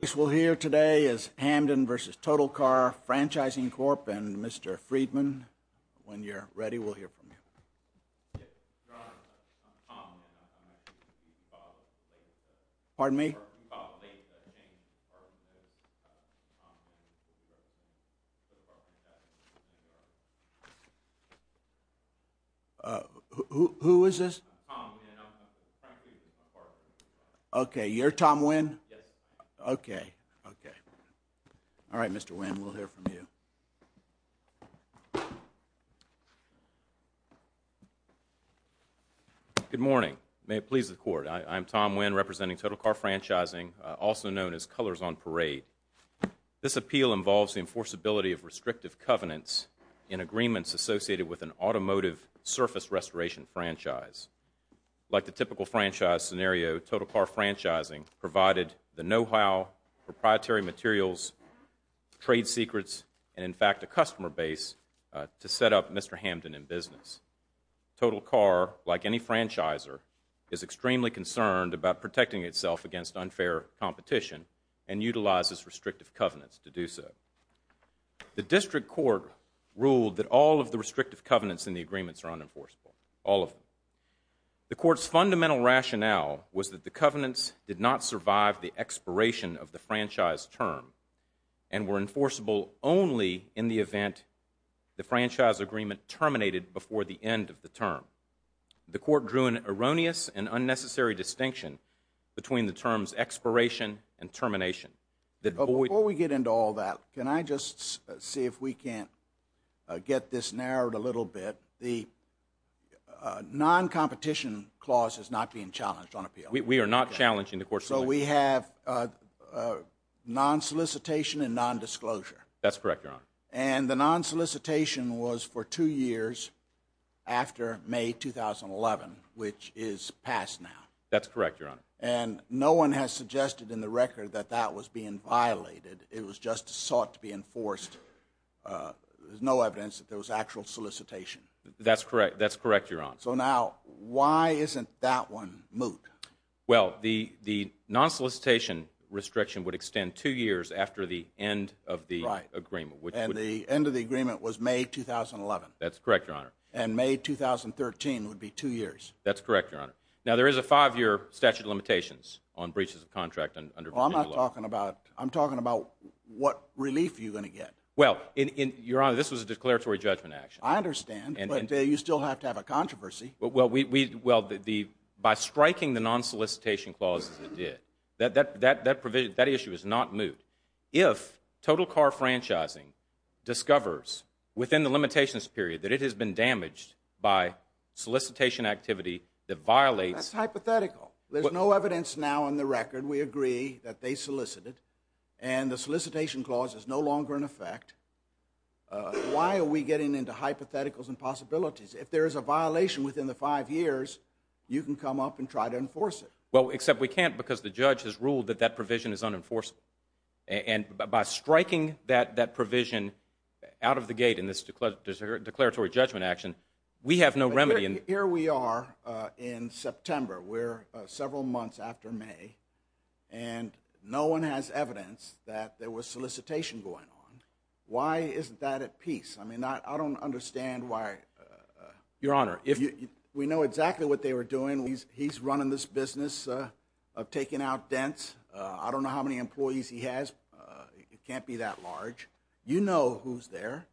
This we'll hear today is Hamden v. Total Car Franchising Corp and Mr. Friedman, when you're ready, we'll hear from you. Yes, Your Honor, I'm Tom, and I'm actually the father of the late James Hartman, and I'm Tom Hamden v. Total Car Franchising Corp. Uh, who is this? I'm Tom, and I'm a franchisee from Hartman. Okay, you're Tom Winn? Yes. Okay, okay. All right, Mr. Winn, we'll hear from you. Good morning. May it please the Court, I'm Tom Winn representing Total Car Franchising, also known as Colors on Parade. This appeal involves the enforceability of restrictive covenants in agreements associated with an automotive surface restoration franchise. Like the typical franchise scenario, Total Car Franchising provided the know-how, proprietary materials, trade secrets, and, in fact, a customer base to set up Mr. Hamden in business. Total Car, like any franchiser, is extremely concerned about protecting itself against unfair competition and utilizes restrictive covenants to do so. The district court ruled that all of the restrictive covenants in the agreements are unenforceable, all of them. The court's fundamental rationale was that the covenants did not survive the expiration of the franchise term and were enforceable only in the event the franchise agreement terminated before the end of the term. The court drew an erroneous and unnecessary distinction between the terms expiration and termination. Before we get into all that, can I just see if we can get this narrowed a little bit? The non-competition clause is not being challenged on appeal. We are not challenging the court's ruling. So we have non-solicitation and non-disclosure. That's correct, Your Honor. And the non-solicitation was for two years after May 2011, which is passed now. That's correct, Your Honor. And no one has suggested in the record that that was being violated. It was just sought to be enforced. There's no evidence that there was actual solicitation. That's correct. That's correct, Your Honor. So now, why isn't that one moot? Well, the non-solicitation restriction would extend two years after the end of the agreement. And the end of the agreement was May 2011. That's correct, Your Honor. And May 2013 would be two years. That's correct, Your Honor. Now, there is a five-year statute of limitations on breaches of contract under Virginia law. Well, I'm not talking about – I'm talking about what relief you're going to get. Well, Your Honor, this was a declaratory judgment action. I understand, but you still have to have a controversy. Well, by striking the non-solicitation clause as it did, that issue is not moot. If total car franchising discovers within the limitations period that it has been damaged by solicitation activity that violates – That's hypothetical. There's no evidence now on the record. We agree that they solicited. And the solicitation clause is no longer in effect. Why are we getting into hypotheticals and possibilities? If there is a violation within the five years, you can come up and try to enforce it. Well, except we can't because the judge has ruled that that provision is unenforceable. And by striking that provision out of the gate in this declaratory judgment action, we have no remedy. Here we are in September. We're several months after May, and no one has evidence that there was solicitation going on. Why isn't that at peace? I mean, I don't understand why – Your Honor, if – We know exactly what they were doing. He's running this business of taking out dents. I don't know how many employees he has. It can't be that large. You know who's there.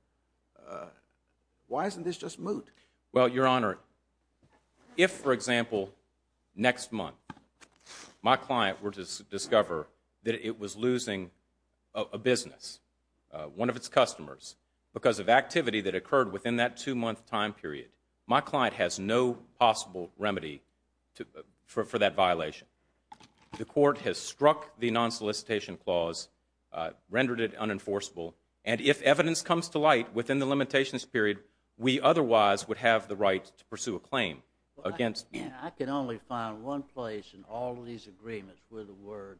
Why isn't this just moot? Well, Your Honor, if, for example, next month my client were to discover that it was losing a business, one of its customers, because of activity that occurred within that two-month time period, my client has no possible remedy for that violation. The court has struck the non-solicitation clause, rendered it unenforceable, and if evidence comes to light within the limitations period, we otherwise would have the right to pursue a claim against you. I can only find one place in all of these agreements where the word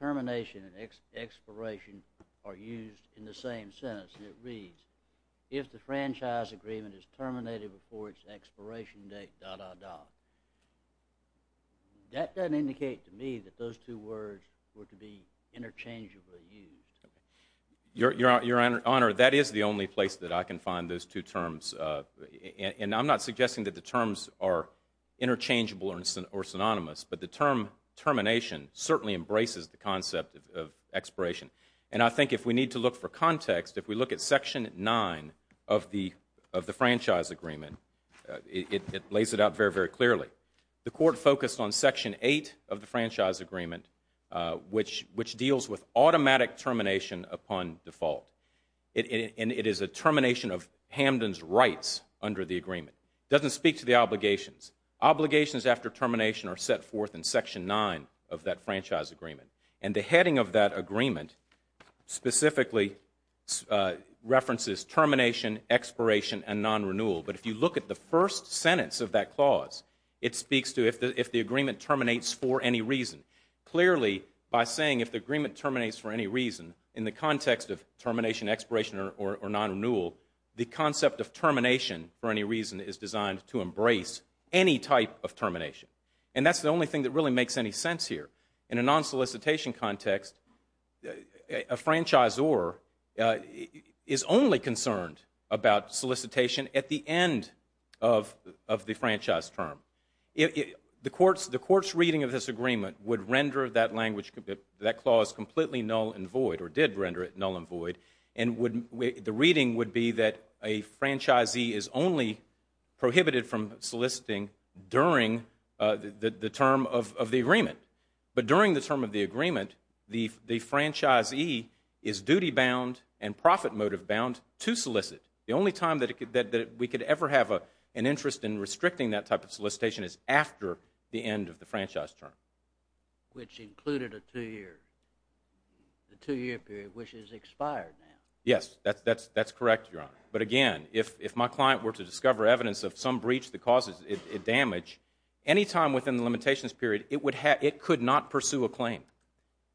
termination and expiration are used in the same sentence, and it reads, if the franchise agreement is terminated before its expiration date, dot, dot, dot. That doesn't indicate to me that those two words were to be interchangeably used. Your Honor, that is the only place that I can find those two terms, and I'm not suggesting that the terms are interchangeable or synonymous, but the term termination certainly embraces the concept of expiration. And I think if we need to look for context, if we look at Section 9 of the franchise agreement, it lays it out very, very clearly. The court focused on Section 8 of the franchise agreement, which deals with automatic termination upon default, and it is a termination of Hamden's rights under the agreement. It doesn't speak to the obligations. Obligations after termination are set forth in Section 9 of that franchise agreement, and the heading of that agreement specifically references termination, expiration, and non-renewal. But if you look at the first sentence of that clause, it speaks to if the agreement terminates for any reason. Clearly, by saying if the agreement terminates for any reason, in the context of termination, expiration, or non-renewal, the concept of termination for any reason is designed to embrace any type of termination. And that's the only thing that really makes any sense here. In a non-solicitation context, a franchisor is only concerned about solicitation at the end of the franchise term. The court's reading of this agreement would render that language, that clause, completely null and void, or did render it null and void, and the reading would be that a franchisee is only prohibited from soliciting during the term of the agreement. But during the term of the agreement, the franchisee is duty-bound and profit motive-bound to solicit. The only time that we could ever have an interest in restricting that type of solicitation is after the end of the franchise term. Which included a two-year period, which has expired now. Yes, that's correct, Your Honor. But again, if my client were to discover evidence of some breach that causes damage, any time within the limitations period, it could not pursue a claim.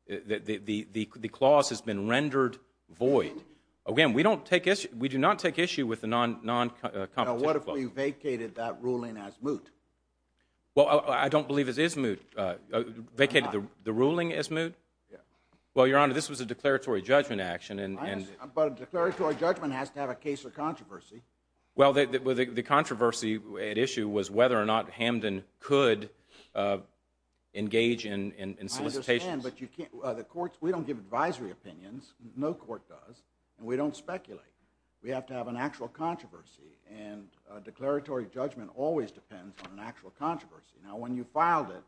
The clause has been rendered void. Again, we do not take issue with the non-competent clause. Now, what if we vacated that ruling as moot? Well, I don't believe it is moot. Vacated the ruling as moot? Well, Your Honor, this was a declaratory judgment action. But a declaratory judgment has to have a case or controversy. Well, the controversy at issue was whether or not Hamden could engage in solicitations. I understand, but we don't give advisory opinions. No court does. And we don't speculate. We have to have an actual controversy. And a declaratory judgment always depends on an actual controversy. Now, when you filed it,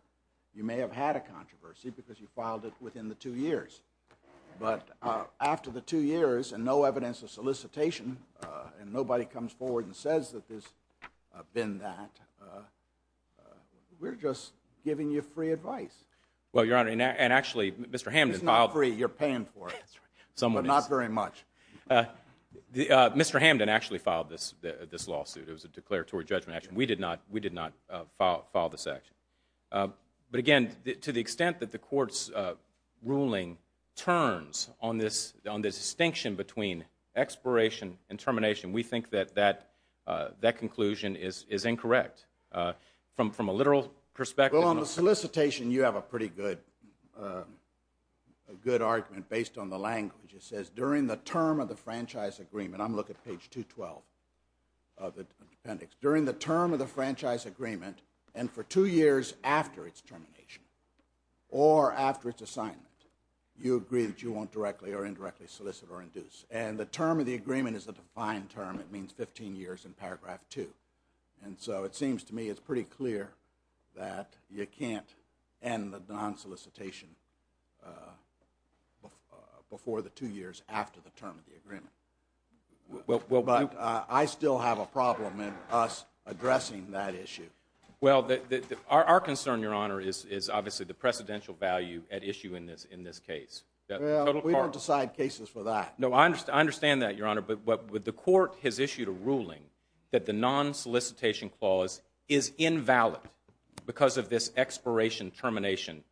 you may have had a controversy because you filed it within the two years. But after the two years and no evidence of solicitation, and nobody comes forward and says that there's been that, we're just giving you free advice. Well, Your Honor, and actually Mr. Hamden filed. It's not free. You're paying for it. But not very much. Mr. Hamden actually filed this lawsuit. It was a declaratory judgment action. We did not file this action. But, again, to the extent that the court's ruling turns on this distinction between expiration and termination, we think that that conclusion is incorrect from a literal perspective. Well, on the solicitation, you have a pretty good argument based on the language. It says, during the term of the franchise agreement, I'm looking at page 212 of the appendix. During the term of the franchise agreement, and for two years after its termination, or after its assignment, you agree that you won't directly or indirectly solicit or induce. And the term of the agreement is a defined term. It means 15 years in paragraph 2. And so it seems to me it's pretty clear that you can't end the non-solicitation before the two years after the term of the agreement. But I still have a problem in us addressing that issue. Well, our concern, Your Honor, is obviously the precedential value at issue in this case. Well, we don't decide cases for that. No, I understand that, Your Honor. But the court has issued a ruling that the non-solicitation clause is invalid because of this expiration-termination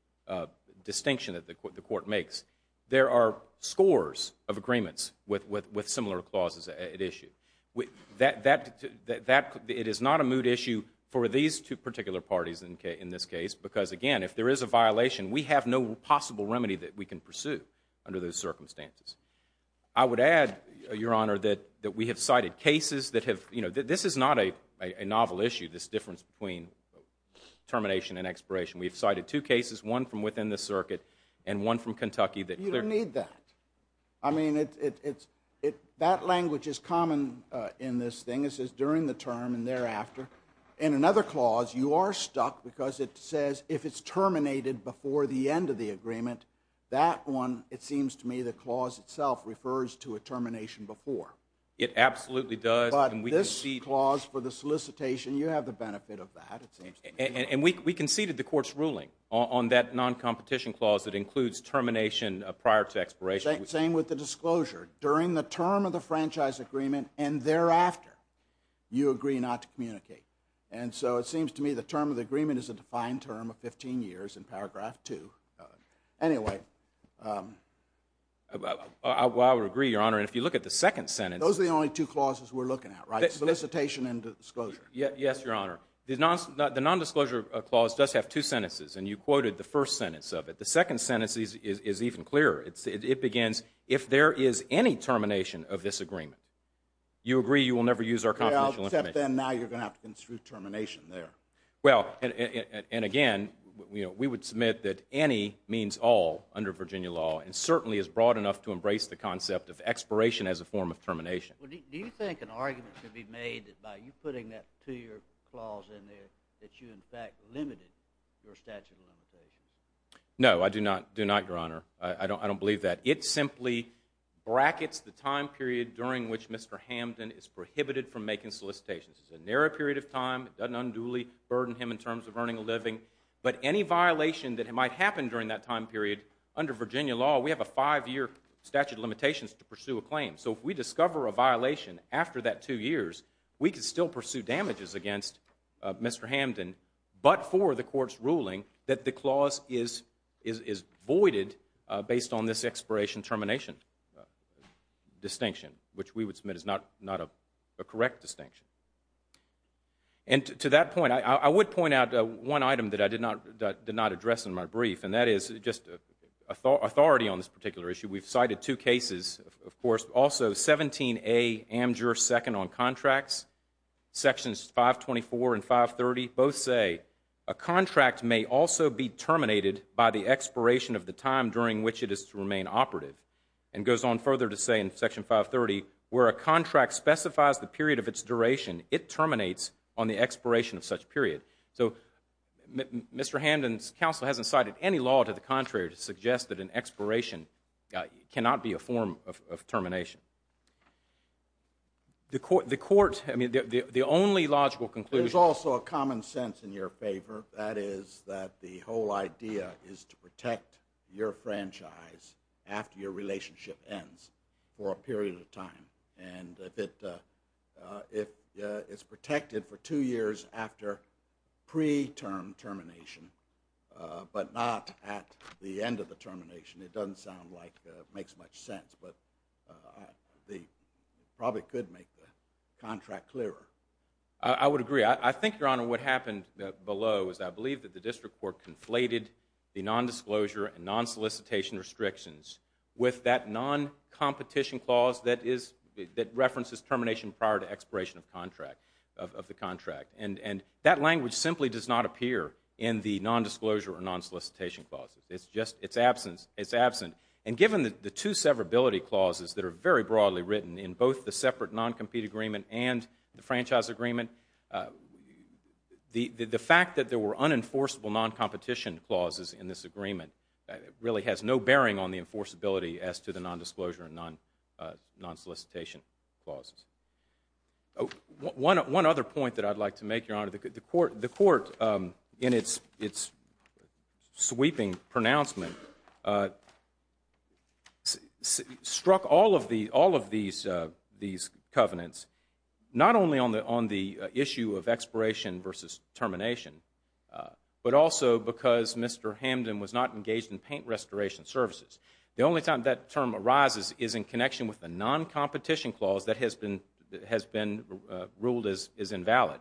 distinction that the court makes. There are scores of agreements with similar clauses at issue. It is not a moot issue for these two particular parties in this case because, again, if there is a violation, we have no possible remedy that we can pursue under those circumstances. I would add, Your Honor, that we have cited cases that have, you know, this is not a novel issue, this difference between termination and expiration. We have cited two cases, one from within the circuit and one from Kentucky. You don't need that. I mean, that language is common in this thing. It says during the term and thereafter. In another clause, you are stuck because it says if it's terminated before the end of the agreement, that one, it seems to me, the clause itself refers to a termination before. It absolutely does. But this clause for the solicitation, you have the benefit of that, it seems to me. And we conceded the court's ruling on that non-competition clause that includes termination prior to expiration. Same with the disclosure. During the term of the franchise agreement and thereafter, you agree not to communicate. And so it seems to me the term of the agreement is a defined term of 15 years in paragraph 2. Anyway. Well, I would agree, Your Honor, and if you look at the second sentence. Those are the only two clauses we're looking at, right? Solicitation and disclosure. Yes, Your Honor. The nondisclosure clause does have two sentences. And you quoted the first sentence of it. The second sentence is even clearer. It begins, if there is any termination of this agreement, you agree you will never use our confidential information. Well, except then now you're going to have to conclude termination there. Well, and again, we would submit that any means all under Virginia law and certainly is broad enough to embrace the concept of expiration as a form of termination. Do you think an argument could be made by you putting that two-year clause in there that you, in fact, limited your statute of limitations? No, I do not, Your Honor. I don't believe that. It simply brackets the time period during which Mr. Hamden is prohibited from making solicitations. It's a narrow period of time. It doesn't unduly burden him in terms of earning a living. But any violation that might happen during that time period, under Virginia law, we have a five-year statute of limitations to pursue a claim. So if we discover a violation after that two years, we can still pursue damages against Mr. Hamden, but for the court's ruling that the clause is voided based on this expiration termination distinction, which we would submit is not a correct distinction. And to that point, I would point out one item that I did not address in my brief, and that is just authority on this particular issue. We've cited two cases, of course. Also, 17A Amdur II on contracts, Sections 524 and 530 both say, a contract may also be terminated by the expiration of the time during which it is to remain operative. And it goes on further to say in Section 530, where a contract specifies the period of its duration, it terminates on the expiration of such period. So Mr. Hamden's counsel hasn't cited any law to the contrary to suggest that an expiration cannot be a form of termination. The court, I mean, the only logical conclusion. There's also a common sense in your favor. That is that the whole idea is to protect your franchise after your relationship ends for a period of time. And if it's protected for two years after pre-term termination, but not at the end of the termination, it doesn't sound like it makes much sense. But it probably could make the contract clearer. I would agree. I think, Your Honor, what happened below is I believe that the district court conflated the nondisclosure and nonsolicitation restrictions with that noncompetition clause that references termination prior to expiration of the contract. And that language simply does not appear in the nondisclosure or nonsolicitation clauses. It's just absent. And given the two severability clauses that are very broadly written in both the separate noncompete agreement and the franchise agreement, the fact that there were unenforceable noncompetition clauses in this agreement really has no bearing on the enforceability as to the nondisclosure and nonsolicitation clauses. One other point that I'd like to make, Your Honor. The court, in its sweeping pronouncement, struck all of these covenants not only on the issue of expiration versus termination, but also because Mr. Hamden was not engaged in paint restoration services. The only time that term arises is in connection with the noncompetition clause that has been ruled as invalid.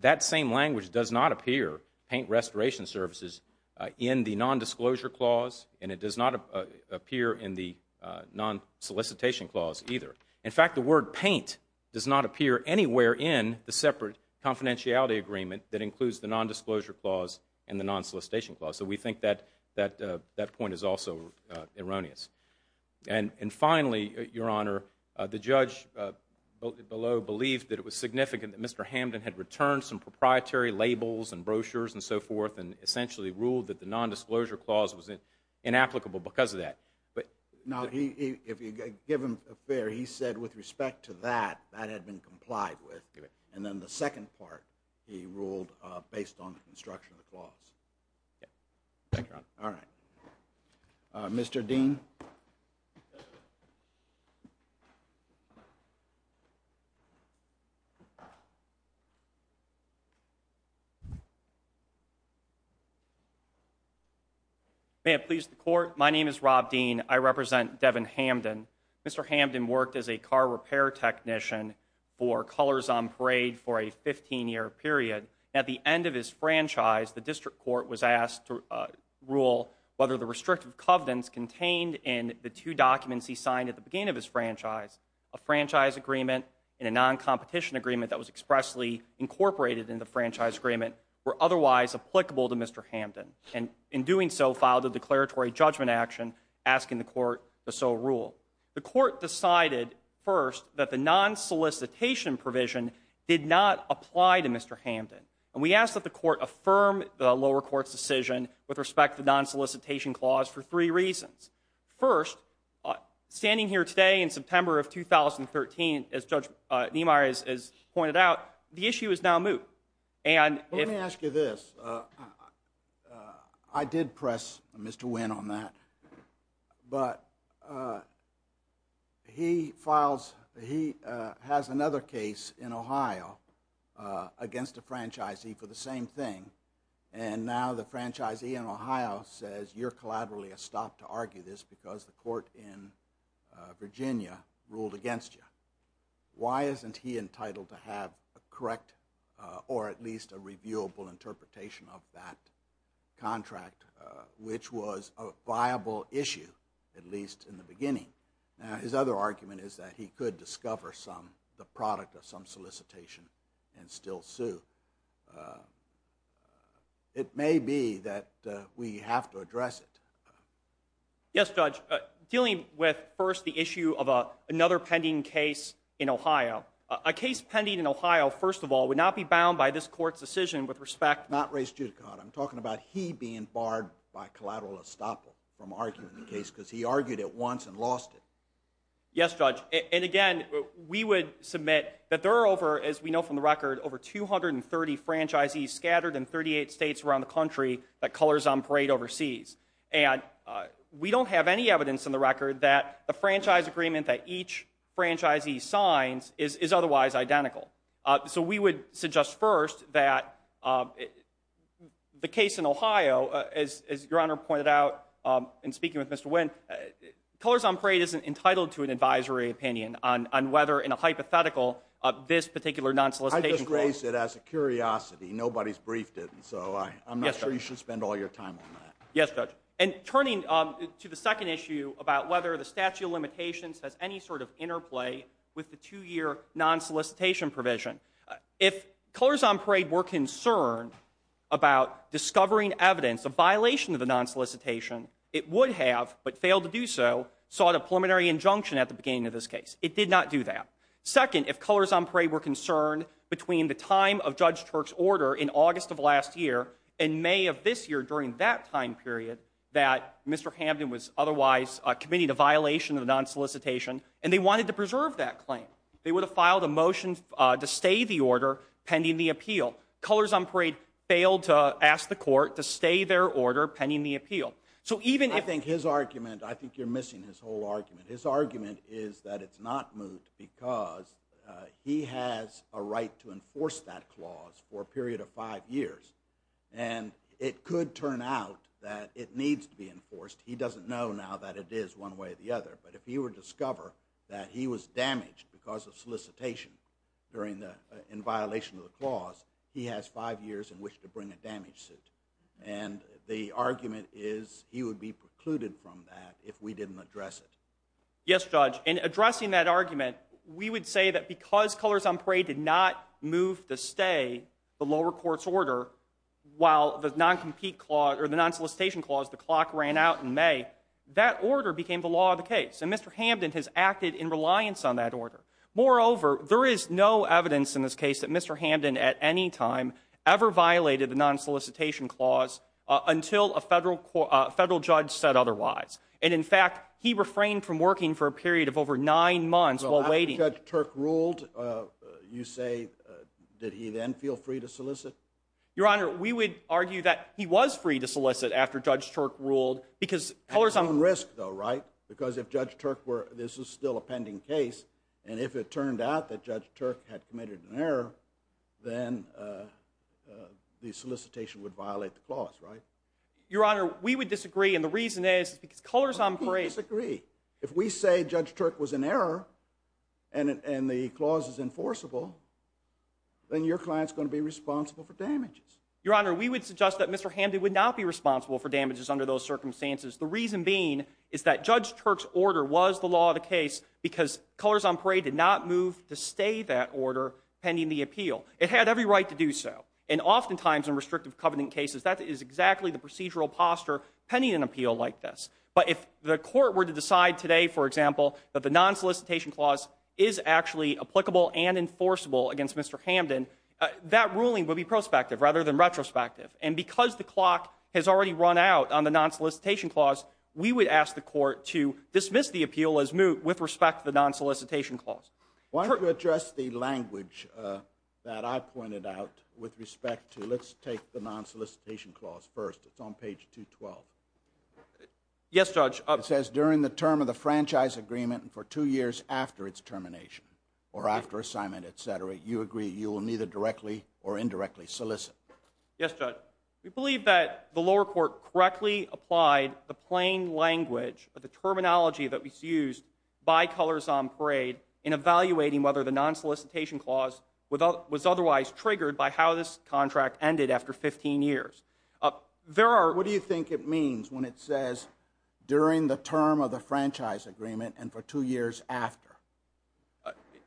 That same language does not appear, paint restoration services, in the nondisclosure clause, and it does not appear in the nonsolicitation clause either. In fact, the word paint does not appear anywhere in the separate confidentiality agreement that includes the nondisclosure clause and the nonsolicitation clause. So we think that point is also erroneous. And finally, Your Honor, the judge below believed that it was significant that Mr. Hamden had returned some proprietary labels and brochures and so forth and essentially ruled that the nondisclosure clause was inapplicable because of that. Now, if you give him a fair, he said with respect to that, that had been complied with. And then the second part he ruled based on the construction of the clause. Thank you, Your Honor. All right. Mr. Dean. May it please the Court, my name is Rob Dean. I represent Devin Hamden. Mr. Hamden worked as a car repair technician for Colors on Parade for a 15-year period. At the end of his franchise, the district court was asked to rule whether the restrictive covenants contained in the two documents he signed at the beginning of his franchise, a franchise agreement and a noncompetition agreement that was expressly incorporated in the franchise agreement, were otherwise applicable to Mr. Hamden. And in doing so, filed a declaratory judgment action asking the court to so rule. The court decided first that the non-solicitation provision did not apply to Mr. Hamden. And we asked that the court affirm the lower court's decision with respect to the non-solicitation clause for three reasons. First, standing here today in September of 2013, as Judge Niemeyer has pointed out, the issue is now moot. Let me ask you this. I did press Mr. Wynn on that. But he has another case in Ohio against a franchisee for the same thing. And now the franchisee in Ohio says you're collaterally stopped to argue this because the court in Virginia ruled against you. Why isn't he entitled to have a correct or at least a reviewable interpretation of that contract, which was a viable issue at least in the beginning? Now his other argument is that he could discover the product of some solicitation and still sue. It may be that we have to address it. Yes, Judge. Dealing with first the issue of another pending case in Ohio. A case pending in Ohio, first of all, would not be bound by this court's decision with respect to Not race judicata. I'm talking about he being barred by collateral estoppel from arguing the case because he argued it once and lost it. Yes, Judge. And again, we would submit that there are over, as we know from the record, over 230 franchisees scattered in 38 states around the country that colors on parade overseas. And we don't have any evidence in the record that the franchise agreement that each franchisee signs is otherwise identical. So we would suggest first that the case in Ohio, as your honor pointed out in speaking with Mr. I just raised it as a curiosity. Nobody's briefed it. So I'm not sure you should spend all your time on that. Yes, Judge. And turning to the second issue about whether the statute of limitations has any sort of interplay with the two year non solicitation provision. If colors on parade were concerned about discovering evidence of violation of the non solicitation, it would have but failed to do so sought a preliminary injunction at the beginning of this case. It did not do that. Second, if colors on parade were concerned between the time of Judge Turk's order in August of last year and May of this year, during that time period that Mr. Hamden was otherwise committing a violation of non solicitation and they wanted to preserve that claim, they would have filed a motion to stay the order pending the appeal. Colors on parade failed to ask the court to stay their order pending the appeal. I think you're missing his whole argument. His argument is that it's not moot because he has a right to enforce that clause for a period of five years. And it could turn out that it needs to be enforced. He doesn't know now that it is one way or the other. But if he were to discover that he was damaged because of solicitation in violation of the clause, he has five years in which to bring a damage suit. And the argument is he would be precluded from that if we didn't address it. Yes, judge. In addressing that argument, we would say that because colors on parade did not move to stay the lower court's order, while the non compete clause or the non solicitation clause, the clock ran out in May, that order became the law of the case. And Mr. Hamden has acted in reliance on that order. Moreover, there is no evidence in this case that Mr. Hamden at any time ever violated the non solicitation clause until a federal federal judge said otherwise. And in fact, he refrained from working for a period of over nine months while waiting. Judge Turk ruled. You say that he then feel free to solicit your honor. We would argue that he was free to solicit after Judge Turk ruled because colors on risk, though. Right. Because if Judge Turk were this is still a pending case, and if it turned out that Judge Turk had committed an error, then the solicitation would violate the clause. Right, your honor. We would disagree. And the reason is because colors on parade agree. If we say Judge Turk was an error and the clause is enforceable. Then your client's going to be responsible for damages, your honor. We would suggest that Mr. Hamden would not be responsible for damages under those circumstances. The reason being is that Judge Turk's order was the law of the case because colors on parade did not move to stay that order pending the appeal. It had every right to do so. And oftentimes in restrictive covenant cases, that is exactly the procedural posture pending an appeal like this. But if the court were to decide today, for example, that the non solicitation clause is actually applicable and enforceable against Mr. Hamden, that ruling would be prospective rather than retrospective. And because the clock has already run out on the non solicitation clause, we would ask the court to dismiss the appeal as moot with respect to the non solicitation clause. Why don't you address the language that I pointed out with respect to let's take the non solicitation clause first. It's on page 212. Yes, Judge. It says during the term of the franchise agreement and for two years after its termination or after assignment, et cetera, you agree. You will neither directly or indirectly solicit. Yes. We believe that the lower court correctly applied the plain language of the terminology that was used by colors on parade in evaluating whether the non solicitation clause was otherwise triggered by how this contract ended after 15 years. There are. What do you think it means when it says during the term of the franchise agreement and for two years after?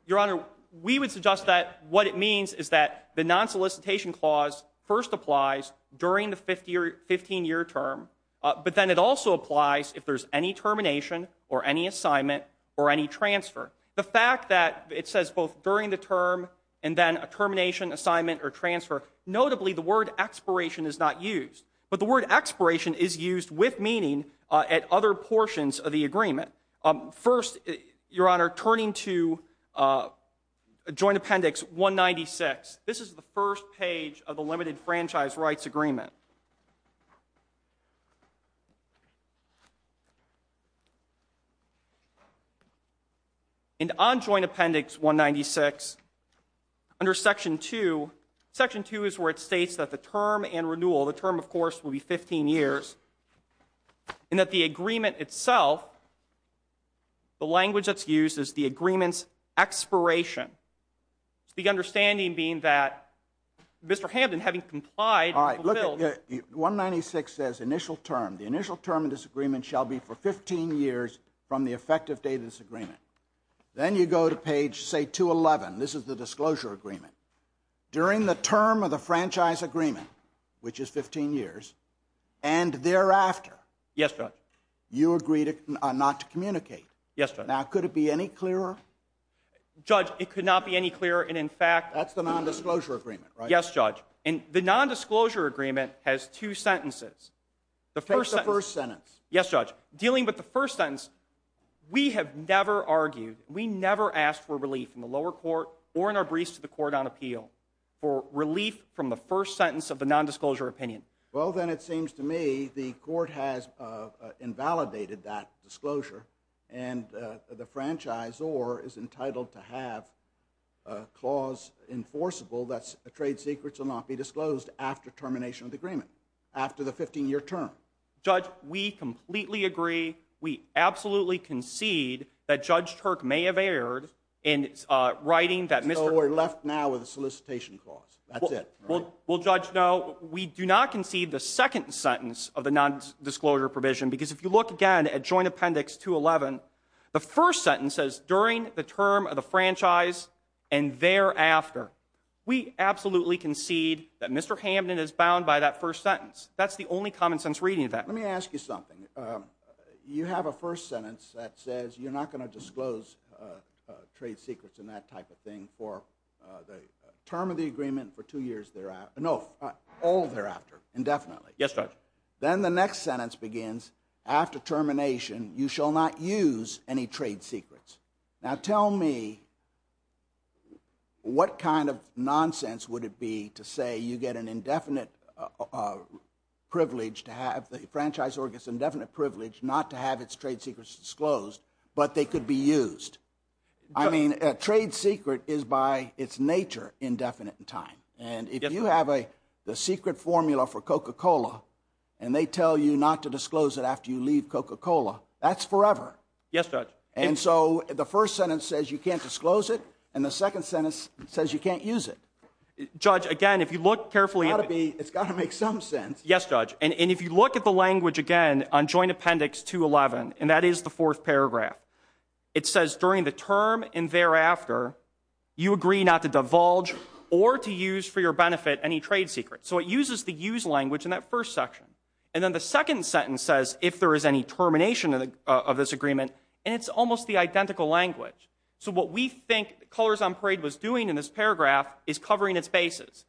Your Honor, we would suggest that what it means is that the non solicitation clause first applies during the 50 or 15 year term. But then it also applies if there's any termination or any assignment or any transfer. The fact that it says both during the term and then a termination assignment or transfer. Notably, the word expiration is not used, but the word expiration is used with meaning at other portions of the agreement. First, Your Honor, turning to a joint appendix one ninety six. This is the first page of the limited franchise rights agreement. And on joint appendix one ninety six under section two, section two is where it states that the term and renewal, the term, of course, will be 15 years and that the agreement itself. The language that's used is the agreements expiration. It's the understanding being that Mr. Hamden, having complied, I look at one ninety six as initial term. The initial term of this agreement shall be for 15 years from the effective date of this agreement. Then you go to page, say, two eleven. This is the disclosure agreement. During the term of the franchise agreement, which is 15 years and thereafter. Yes. You agreed not to communicate. Yes. Now, could it be any clearer? Judge, it could not be any clearer. And in fact, that's the nondisclosure agreement. Yes, Judge. And the nondisclosure agreement has two sentences. The first sentence. Yes, Judge. Dealing with the first sentence. We have never argued. We never asked for relief in the lower court or in our briefs to the court on appeal for relief from the first sentence of the nondisclosure opinion. Well, then it seems to me the court has invalidated that disclosure. And the franchise or is entitled to have a clause enforceable. That's a trade secrets will not be disclosed after termination of the agreement. After the 15 year term. Judge, we completely agree. We absolutely concede that Judge Turk may have erred in writing that Mr. We're left now with a solicitation clause. That's it. Well, Judge, no, we do not concede the second sentence of the nondisclosure provision. Because if you look again at Joint Appendix 211, the first sentence says during the term of the franchise and thereafter. We absolutely concede that Mr. Hamden is bound by that first sentence. That's the only common sense reading of that. Let me ask you something. You have a first sentence that says you're not going to disclose trade secrets and that type of thing for the term of the agreement for two years. There are no all thereafter indefinitely. Yes. Then the next sentence begins after termination. You shall not use any trade secrets. Now, tell me what kind of nonsense would it be to say you get an indefinite privilege to have the franchise or indefinite privilege not to have its trade secrets disclosed, but they could be used. I mean, a trade secret is by its nature indefinite in time. And if you have a secret formula for Coca-Cola and they tell you not to disclose it after you leave Coca-Cola, that's forever. Yes, Judge. And so the first sentence says you can't disclose it and the second sentence says you can't use it. Judge, again, if you look carefully. It's got to make some sense. Yes, Judge. And if you look at the language again on Joint Appendix 211, and that is the fourth paragraph, it says during the term and thereafter, you agree not to divulge or to use for your benefit any trade secrets. So it uses the use language in that first section. And then the second sentence says if there is any termination of this agreement, and it's almost the identical language. So what we think Colors on Parade was doing in this paragraph is covering its bases.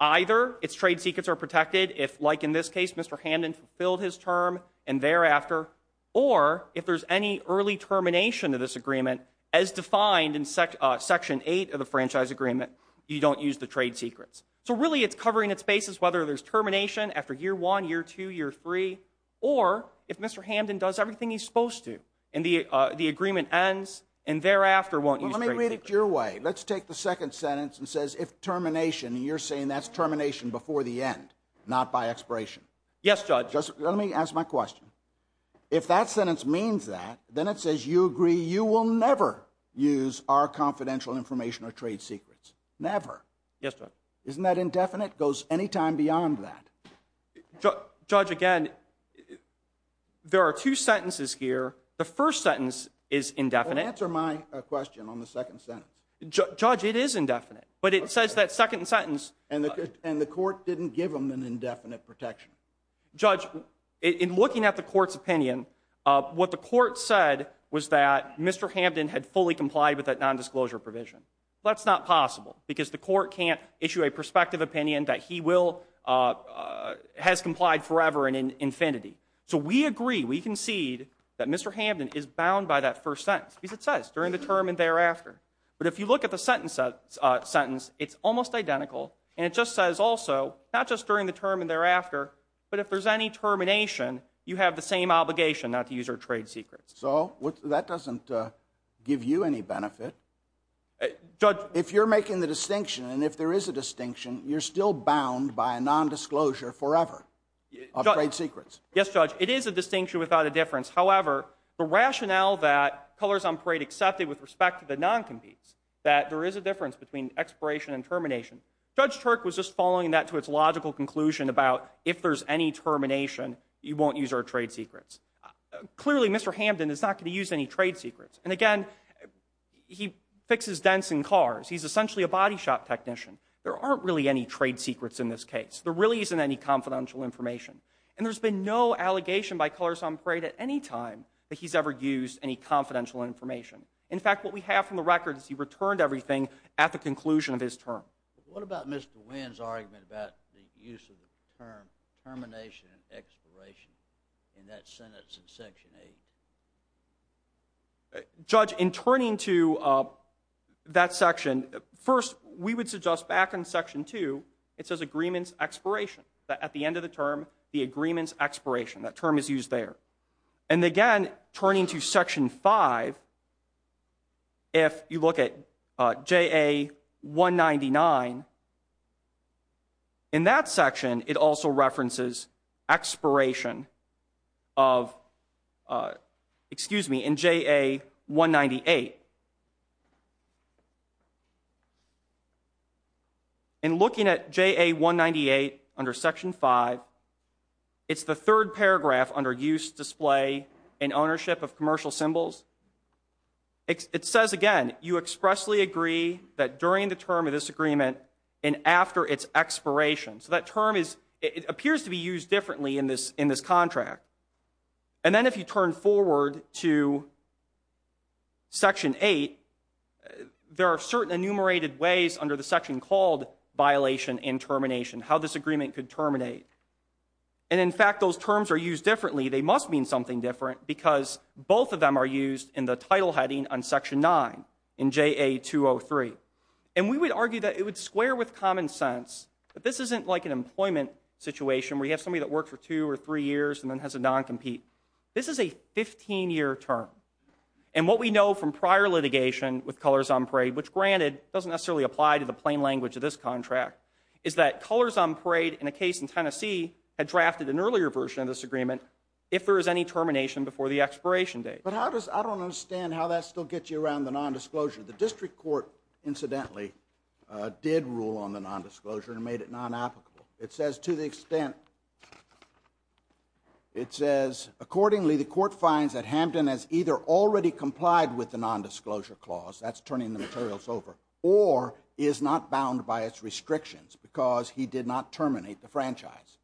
Either its trade secrets are protected if, like in this case, Mr. Hamden fulfilled his term and thereafter, or if there's any early termination of this agreement, as defined in Section 8 of the Franchise Agreement, you don't use the trade secrets. So really it's covering its bases, whether there's termination after year one, year two, year three, or if Mr. Hamden does everything he's supposed to and the agreement ends and thereafter won't use trade secrets. Let me read it your way. Let's take the second sentence and says if termination, and you're saying that's termination before the end, not by expiration. Yes, Judge. Let me ask my question. If that sentence means that, then it says you agree you will never use our confidential information or trade secrets. Never. Yes, Judge. Isn't that indefinite? Goes any time beyond that. Judge, again, there are two sentences here. The first sentence is indefinite. Answer my question on the second sentence. Judge, it is indefinite. But it says that second sentence. And the court didn't give them an indefinite protection. Judge, in looking at the court's opinion, what the court said was that Mr. Hamden had fully complied with that nondisclosure provision. That's not possible because the court can't issue a prospective opinion that he has complied forever and in infinity. So we agree, we concede that Mr. Hamden is bound by that first sentence because it says during the term and thereafter. But if you look at the sentence, it's almost identical and it just says also not just during the term and thereafter, but if there's any termination, you have the same obligation not to use our trade secrets. So that doesn't give you any benefit. If you're making the distinction and if there is a distinction, you're still bound by a nondisclosure forever of trade secrets. Yes, Judge, it is a distinction without a difference. However, the rationale that Colors on Parade accepted with respect to the non-competes, that there is a difference between expiration and termination, Judge Turk was just following that to its logical conclusion about if there's any termination, you won't use our trade secrets. Clearly, Mr. Hamden is not going to use any trade secrets. And again, he fixes dents in cars. He's essentially a body shop technician. There aren't really any trade secrets in this case. There really isn't any confidential information. And there's been no allegation by Colors on Parade at any time that he's ever used any confidential information. In fact, what we have from the record is he returned everything at the conclusion of his term. What about Mr. Wynn's argument about the use of the term termination and expiration in that sentence in Section 8? Judge, in turning to that section, first, we would suggest back in Section 2, it says agreements expiration. At the end of the term, the agreements expiration. That term is used there. And again, turning to Section 5, if you look at JA199, in that section, it also references expiration of, excuse me, in JA198. In looking at JA198 under Section 5, it's the third paragraph under use, display, and ownership of commercial symbols. It says, again, you expressly agree that during the term of this agreement and after its expiration. So that term is, it appears to be used differently in this contract. And then if you turn forward to Section 8, there are certain enumerated ways under the section called violation and termination, how this agreement could terminate. And in fact, those terms are used differently. They must mean something different because both of them are used in the title heading on Section 9 in JA203. And we would argue that it would square with common sense. But this isn't like an employment situation where you have somebody that works for two or three years and then has a non-compete. This is a 15-year term. And what we know from prior litigation with Colors on Parade, which, granted, doesn't necessarily apply to the plain language of this contract, is that Colors on Parade in a case in Tennessee had drafted an earlier version of this agreement if there is any termination before the expiration date. But how does, I don't understand how that still gets you around the nondisclosure. The district court, incidentally, did rule on the nondisclosure and made it non-applicable. It says, to the extent, it says, accordingly, the court finds that Hampton has either already complied with the nondisclosure clause, that's turning the materials over, or is not bound by its restrictions because he did not terminate the franchise.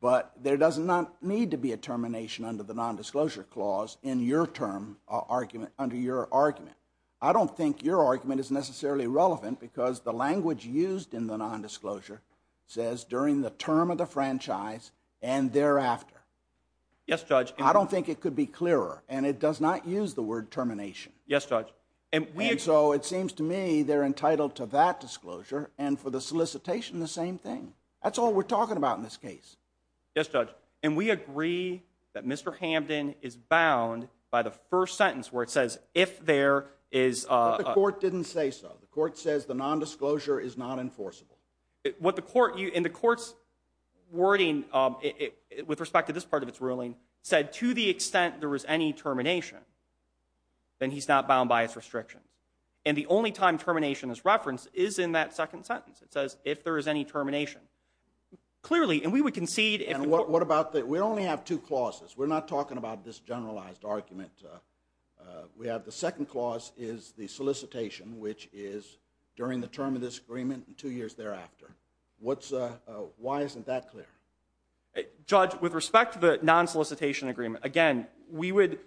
But there does not need to be a termination under the nondisclosure clause in your term argument, under your argument. I don't think your argument is necessarily relevant because the language used in the nondisclosure says, during the term of the franchise and thereafter. Yes, Judge. I don't think it could be clearer. And it does not use the word termination. Yes, Judge. And so it seems to me they're entitled to that disclosure and for the solicitation the same thing. That's all we're talking about in this case. Yes, Judge. And we agree that Mr. Hampton is bound by the first sentence where it says, if there is a... But the court didn't say so. The court says the nondisclosure is not enforceable. And the court's wording with respect to this part of its ruling said, to the extent there was any termination, then he's not bound by its restrictions. And the only time termination is referenced is in that second sentence. It says, if there is any termination. Clearly, and we would concede... And what about the... We only have two clauses. We're not talking about this generalized argument. We have the second clause is the solicitation, which is during the term of this agreement and two years thereafter. What's... Why isn't that clear? Judge, with respect to the non-solicitation agreement, again, we would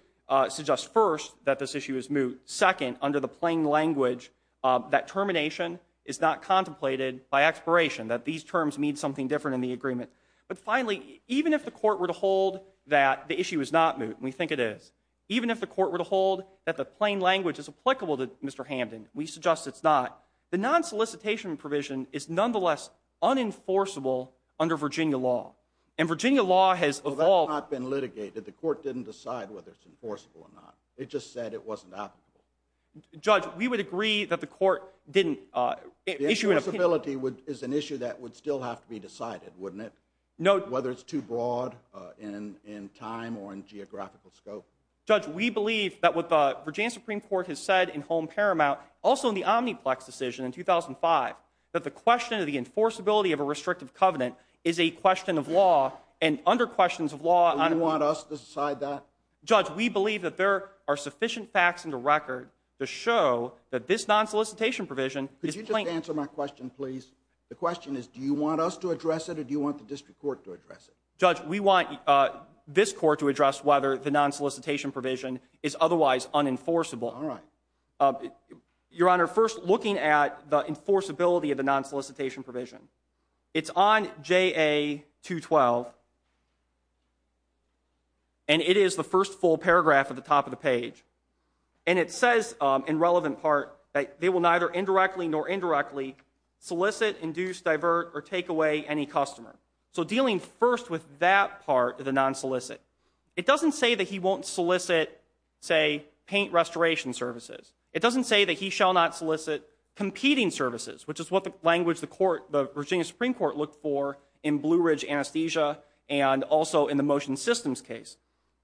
suggest, first, that this issue is moot. Second, under the plain language, that termination is not contemplated by expiration, that these terms mean something different in the agreement. But finally, even if the court were to hold that the issue is not moot, and we think it is, even if the court were to hold that the plain language is applicable to Mr. Hamden, we suggest it's not, the non-solicitation provision is nonetheless unenforceable under Virginia law. And Virginia law has evolved... Well, that's not been litigated. The court didn't decide whether it's enforceable or not. It just said it wasn't applicable. Judge, we would agree that the court didn't... Enforceability is an issue that would still have to be decided, wouldn't it? Whether it's too broad in time or in geographical scope. Judge, we believe that what the Virginia Supreme Court has said in Home Paramount, also in the Omniplex decision in 2005, that the question of the enforceability of a restrictive covenant is a question of law and under questions of law... Do you want us to decide that? Judge, we believe that there are sufficient facts in the record to show that this non-solicitation provision is plain... Just answer my question, please. The question is, do you want us to address it or do you want the district court to address it? Judge, we want this court to address whether the non-solicitation provision is otherwise unenforceable. All right. Your Honor, first, looking at the enforceability of the non-solicitation provision, it's on JA-212, and it is the first full paragraph at the top of the page. And it says, in relevant part, that they will neither indirectly nor indirectly solicit, induce, divert, or take away any customer. So dealing first with that part of the non-solicit, it doesn't say that he won't solicit, say, paint restoration services. It doesn't say that he shall not solicit competing services, which is what the language the Virginia Supreme Court looked for in Blue Ridge Anesthesia and also in the Motion Systems case.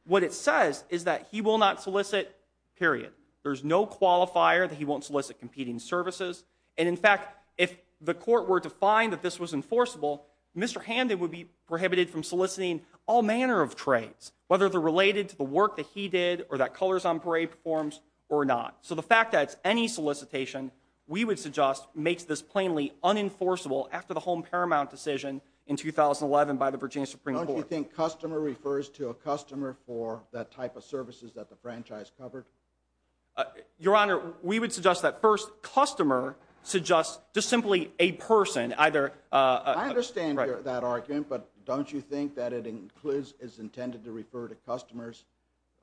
What it says is that he will not solicit, period. There's no qualifier that he won't solicit competing services. And, in fact, if the court were to find that this was enforceable, Mr. Hamden would be prohibited from soliciting all manner of trades, whether they're related to the work that he did or that Colors on Parade performs or not. So the fact that it's any solicitation, we would suggest, makes this plainly unenforceable after the home paramount decision in 2011 by the Virginia Supreme Court. Don't you think customer refers to a customer for that type of services that the franchise covered? Your Honor, we would suggest that, first, customer suggests just simply a person. I understand that argument, but don't you think that it is intended to refer to customers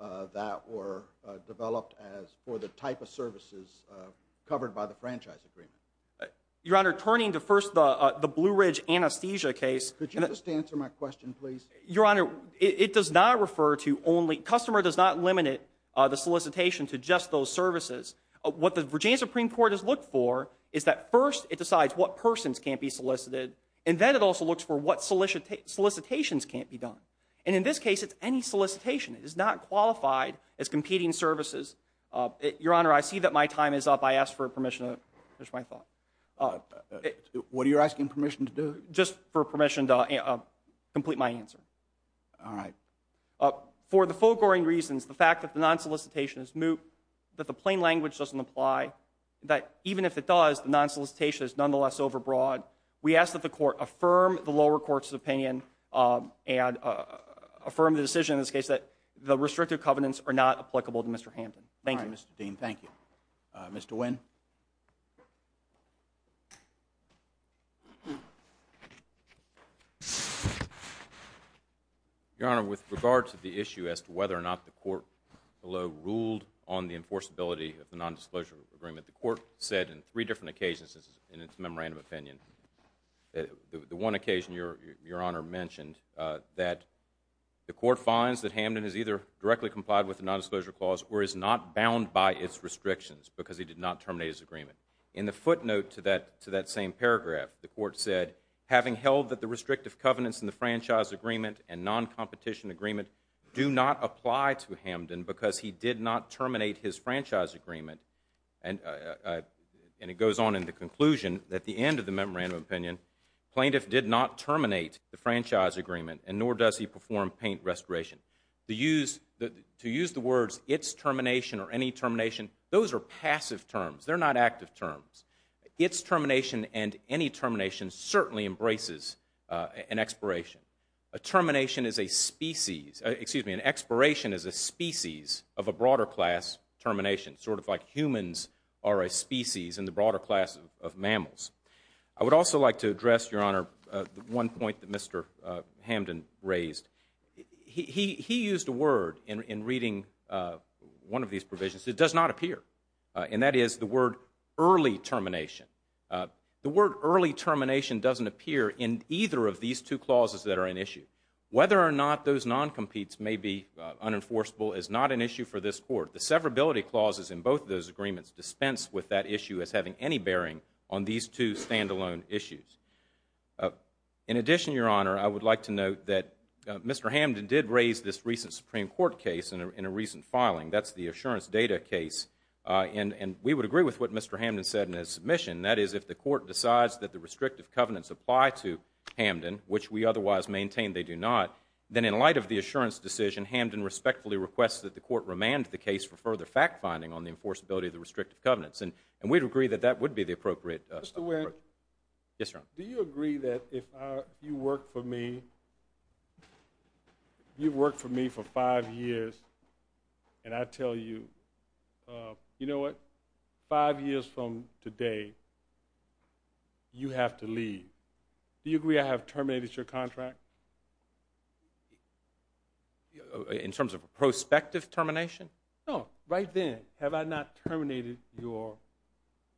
that were developed for the type of services covered by the franchise agreement? Your Honor, turning to, first, the Blue Ridge Anesthesia case. Could you just answer my question, please? Your Honor, it does not refer to only, customer does not limit the solicitation to just those services. What the Virginia Supreme Court has looked for is that, first, it decides what persons can't be solicited, and then it also looks for what solicitations can't be done. And, in this case, it's any solicitation. It is not qualified as competing services. Your Honor, I see that my time is up. I ask for permission to finish my thought. What are you asking permission to do? Just for permission to complete my answer. All right. For the foregoing reasons, the fact that the non-solicitation is moot, that the plain language doesn't apply, that even if it does, the non-solicitation is nonetheless overbroad, we ask that the Court affirm the lower court's opinion and affirm the decision in this case that the restrictive covenants are not applicable to Mr. Hampton. Thank you. All right, Mr. Dean, thank you. Mr. Nguyen? Your Honor, with regard to the issue as to whether or not the court below ruled on the enforceability of the nondisclosure agreement, the court said in three different occasions in its memorandum opinion. The one occasion, Your Honor mentioned, that the court finds that Hampton has either directly complied with the nondisclosure clause or is not bound by its restrictions because he did not terminate his agreement. In the footnote to that same paragraph, the court said, having held that the restrictive covenants in the franchise agreement and non-competition agreement do not apply to Hampton because he did not terminate his franchise agreement, and it goes on in the conclusion at the end of the memorandum opinion, plaintiff did not terminate the franchise agreement, and nor does he perform paint restoration. To use the words, its termination or any termination, those are passive terms. They're not active terms. Its termination and any termination certainly embraces an expiration. A termination is a species of a broader class termination, sort of like humans are a species in the broader class of mammals. I would also like to address, Your Honor, one point that Mr. Hampton raised. He used a word in reading one of these provisions that does not appear, and that is the word early termination. The word early termination doesn't appear in either of these two clauses that are in issue. Whether or not those non-competes may be unenforceable is not an issue for this court. The severability clauses in both of those agreements dispense with that issue as having any bearing on these two standalone issues. In addition, Your Honor, I would like to note that Mr. Hampton did raise this recent Supreme Court case in a recent filing. That's the assurance data case, and we would agree with what Mr. Hampton said in his submission. That is, if the court decides that the restrictive covenants apply to Hampton, which we otherwise maintain they do not, then in light of the assurance decision, Hampton respectfully requests that the court remand the case for further fact-finding on the enforceability of the restrictive covenants. And we'd agree that that would be the appropriate approach. Yes, Your Honor. Do you agree that if you work for me, you've worked for me for five years, and I tell you, you know what? Five years from today, you have to leave. Do you agree I have terminated your contract? In terms of a prospective termination? No, right then. Have I not terminated your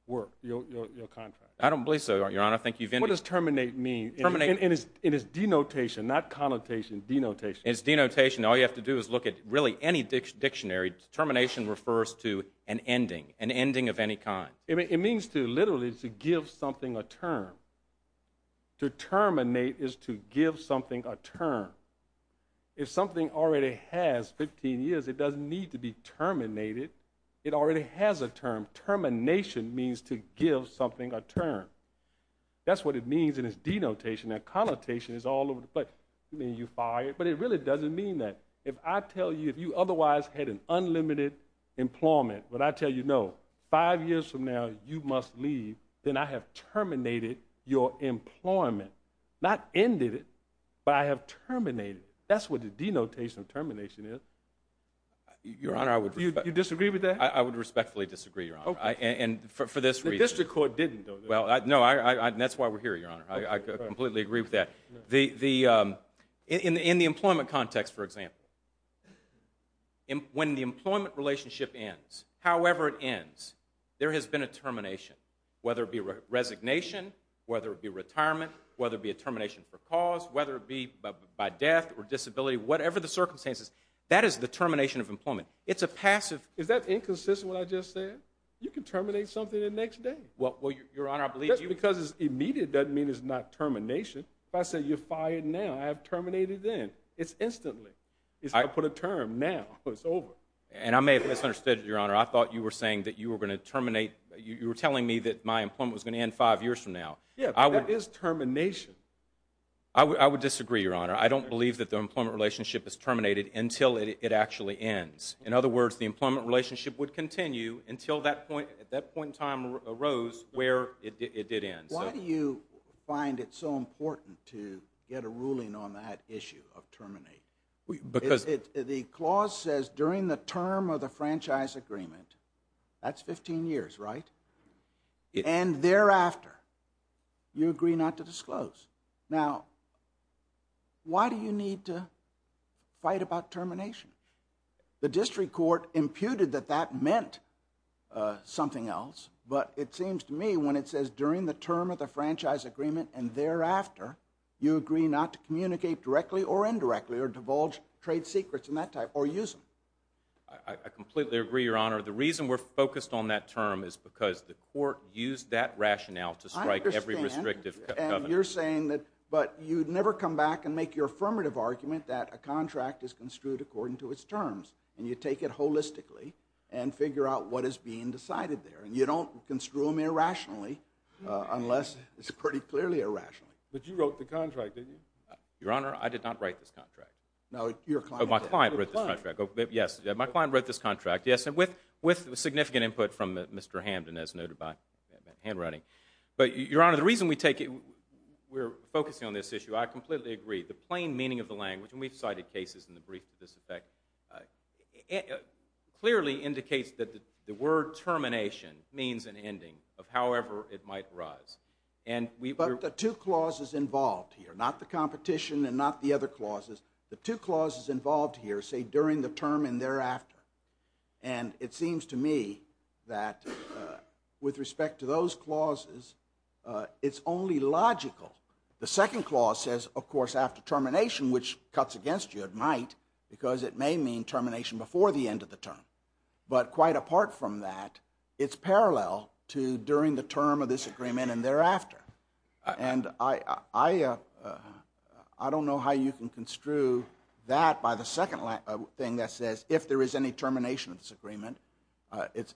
work, your contract? I don't believe so, Your Honor. What does terminate mean? It is denotation, not connotation, denotation. It's denotation. All you have to do is look at really any dictionary. Termination refers to an ending, an ending of any kind. It means literally to give something a term. To terminate is to give something a term. If something already has 15 years, it doesn't need to be terminated. It already has a term. Termination means to give something a term. That's what it means, and it's denotation. Now, connotation is all over the place. You mean you're fired? But it really doesn't mean that. If I tell you, if you otherwise had an unlimited employment, but I tell you, no, five years from now, you must leave, then I have terminated your employment. Not ended it, but I have terminated it. That's what the denotation of termination is. Your Honor, I would respect. You disagree with that? I would respectfully disagree, Your Honor, and for this reason. The district court didn't, though. No, and that's why we're here, Your Honor. I completely agree with that. In the employment context, for example, when the employment relationship ends, however it ends, there has been a termination, whether it be resignation, whether it be retirement, whether it be a termination for cause, whether it be by death or disability, whatever the circumstances, that is the termination of employment. It's a passive... Is that inconsistent with what I just said? You can terminate something the next day. Well, Your Honor, I believe... Just because it's immediate doesn't mean it's not termination. If I say you're fired now, I have terminated then. It's instantly. I put a term now. It's over. And I may have misunderstood, Your Honor. I thought you were saying that you were going to terminate, you were telling me that my employment was going to end five years from now. Yeah, but that is termination. I would disagree, Your Honor. I don't believe that the employment relationship is terminated until it actually ends. In other words, the employment relationship would continue until that point in time arose where it did end. Why do you find it so important to get a ruling on that issue of terminate? Because... The clause says during the term of the franchise agreement, that's 15 years, right? And thereafter, you agree not to disclose. Now, why do you need to fight about termination? The district court imputed that that meant something else, but it seems to me when it says during the term of the franchise agreement and thereafter, you agree not to communicate directly or indirectly or divulge trade secrets and that type or use them. I completely agree, Your Honor. The reason we're focused on that term is because the court used that rationale to strike every restrictive covenant. I understand, and you're saying that, but you'd never come back and make your affirmative argument that a contract is construed according to its terms, and you take it holistically and figure out what is being decided there. You don't construe them irrationally unless it's pretty clearly irrationally. But you wrote the contract, didn't you? Your Honor, I did not write this contract. No, your client did. My client wrote this contract. Yes, my client wrote this contract, yes, and with significant input from Mr. Hamden as noted by handwriting. But, Your Honor, the reason we're focusing on this issue, I completely agree. The plain meaning of the language, and we've cited cases in the brief to this effect, clearly indicates that the word termination means an ending of however it might rise. But the two clauses involved here, not the competition and not the other clauses, the two clauses involved here say during the term and thereafter. And it seems to me that with respect to those clauses, it's only logical. The second clause says, of course, after termination, which cuts against you at might, because it may mean termination before the end of the term. But quite apart from that, it's parallel to during the term of this agreement and thereafter. And I don't know how you can construe that by the second thing that says, if there is any termination of this agreement.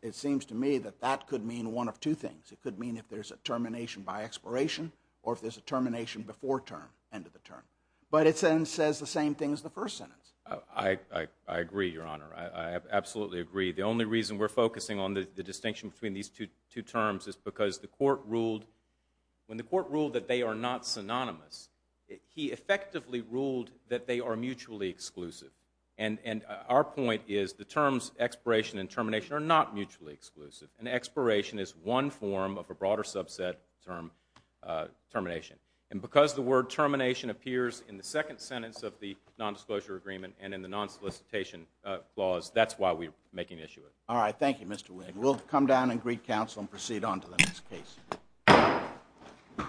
It seems to me that that could mean one of two things. It could mean if there's a termination by expiration or if there's a termination before term, end of the term. But it then says the same thing as the first sentence. I agree, Your Honor. I absolutely agree. The only reason we're focusing on the distinction between these two terms is because when the court ruled that they are not synonymous, he effectively ruled that they are mutually exclusive. And our point is the terms expiration and termination are not mutually exclusive, and expiration is one form of a broader subset term, termination. And because the word termination appears in the second sentence of the nondisclosure agreement and in the nonsolicitation clause, that's why we're making an issue of it. All right, thank you, Mr. Wigg. We'll come down and greet counsel and proceed on to the next case.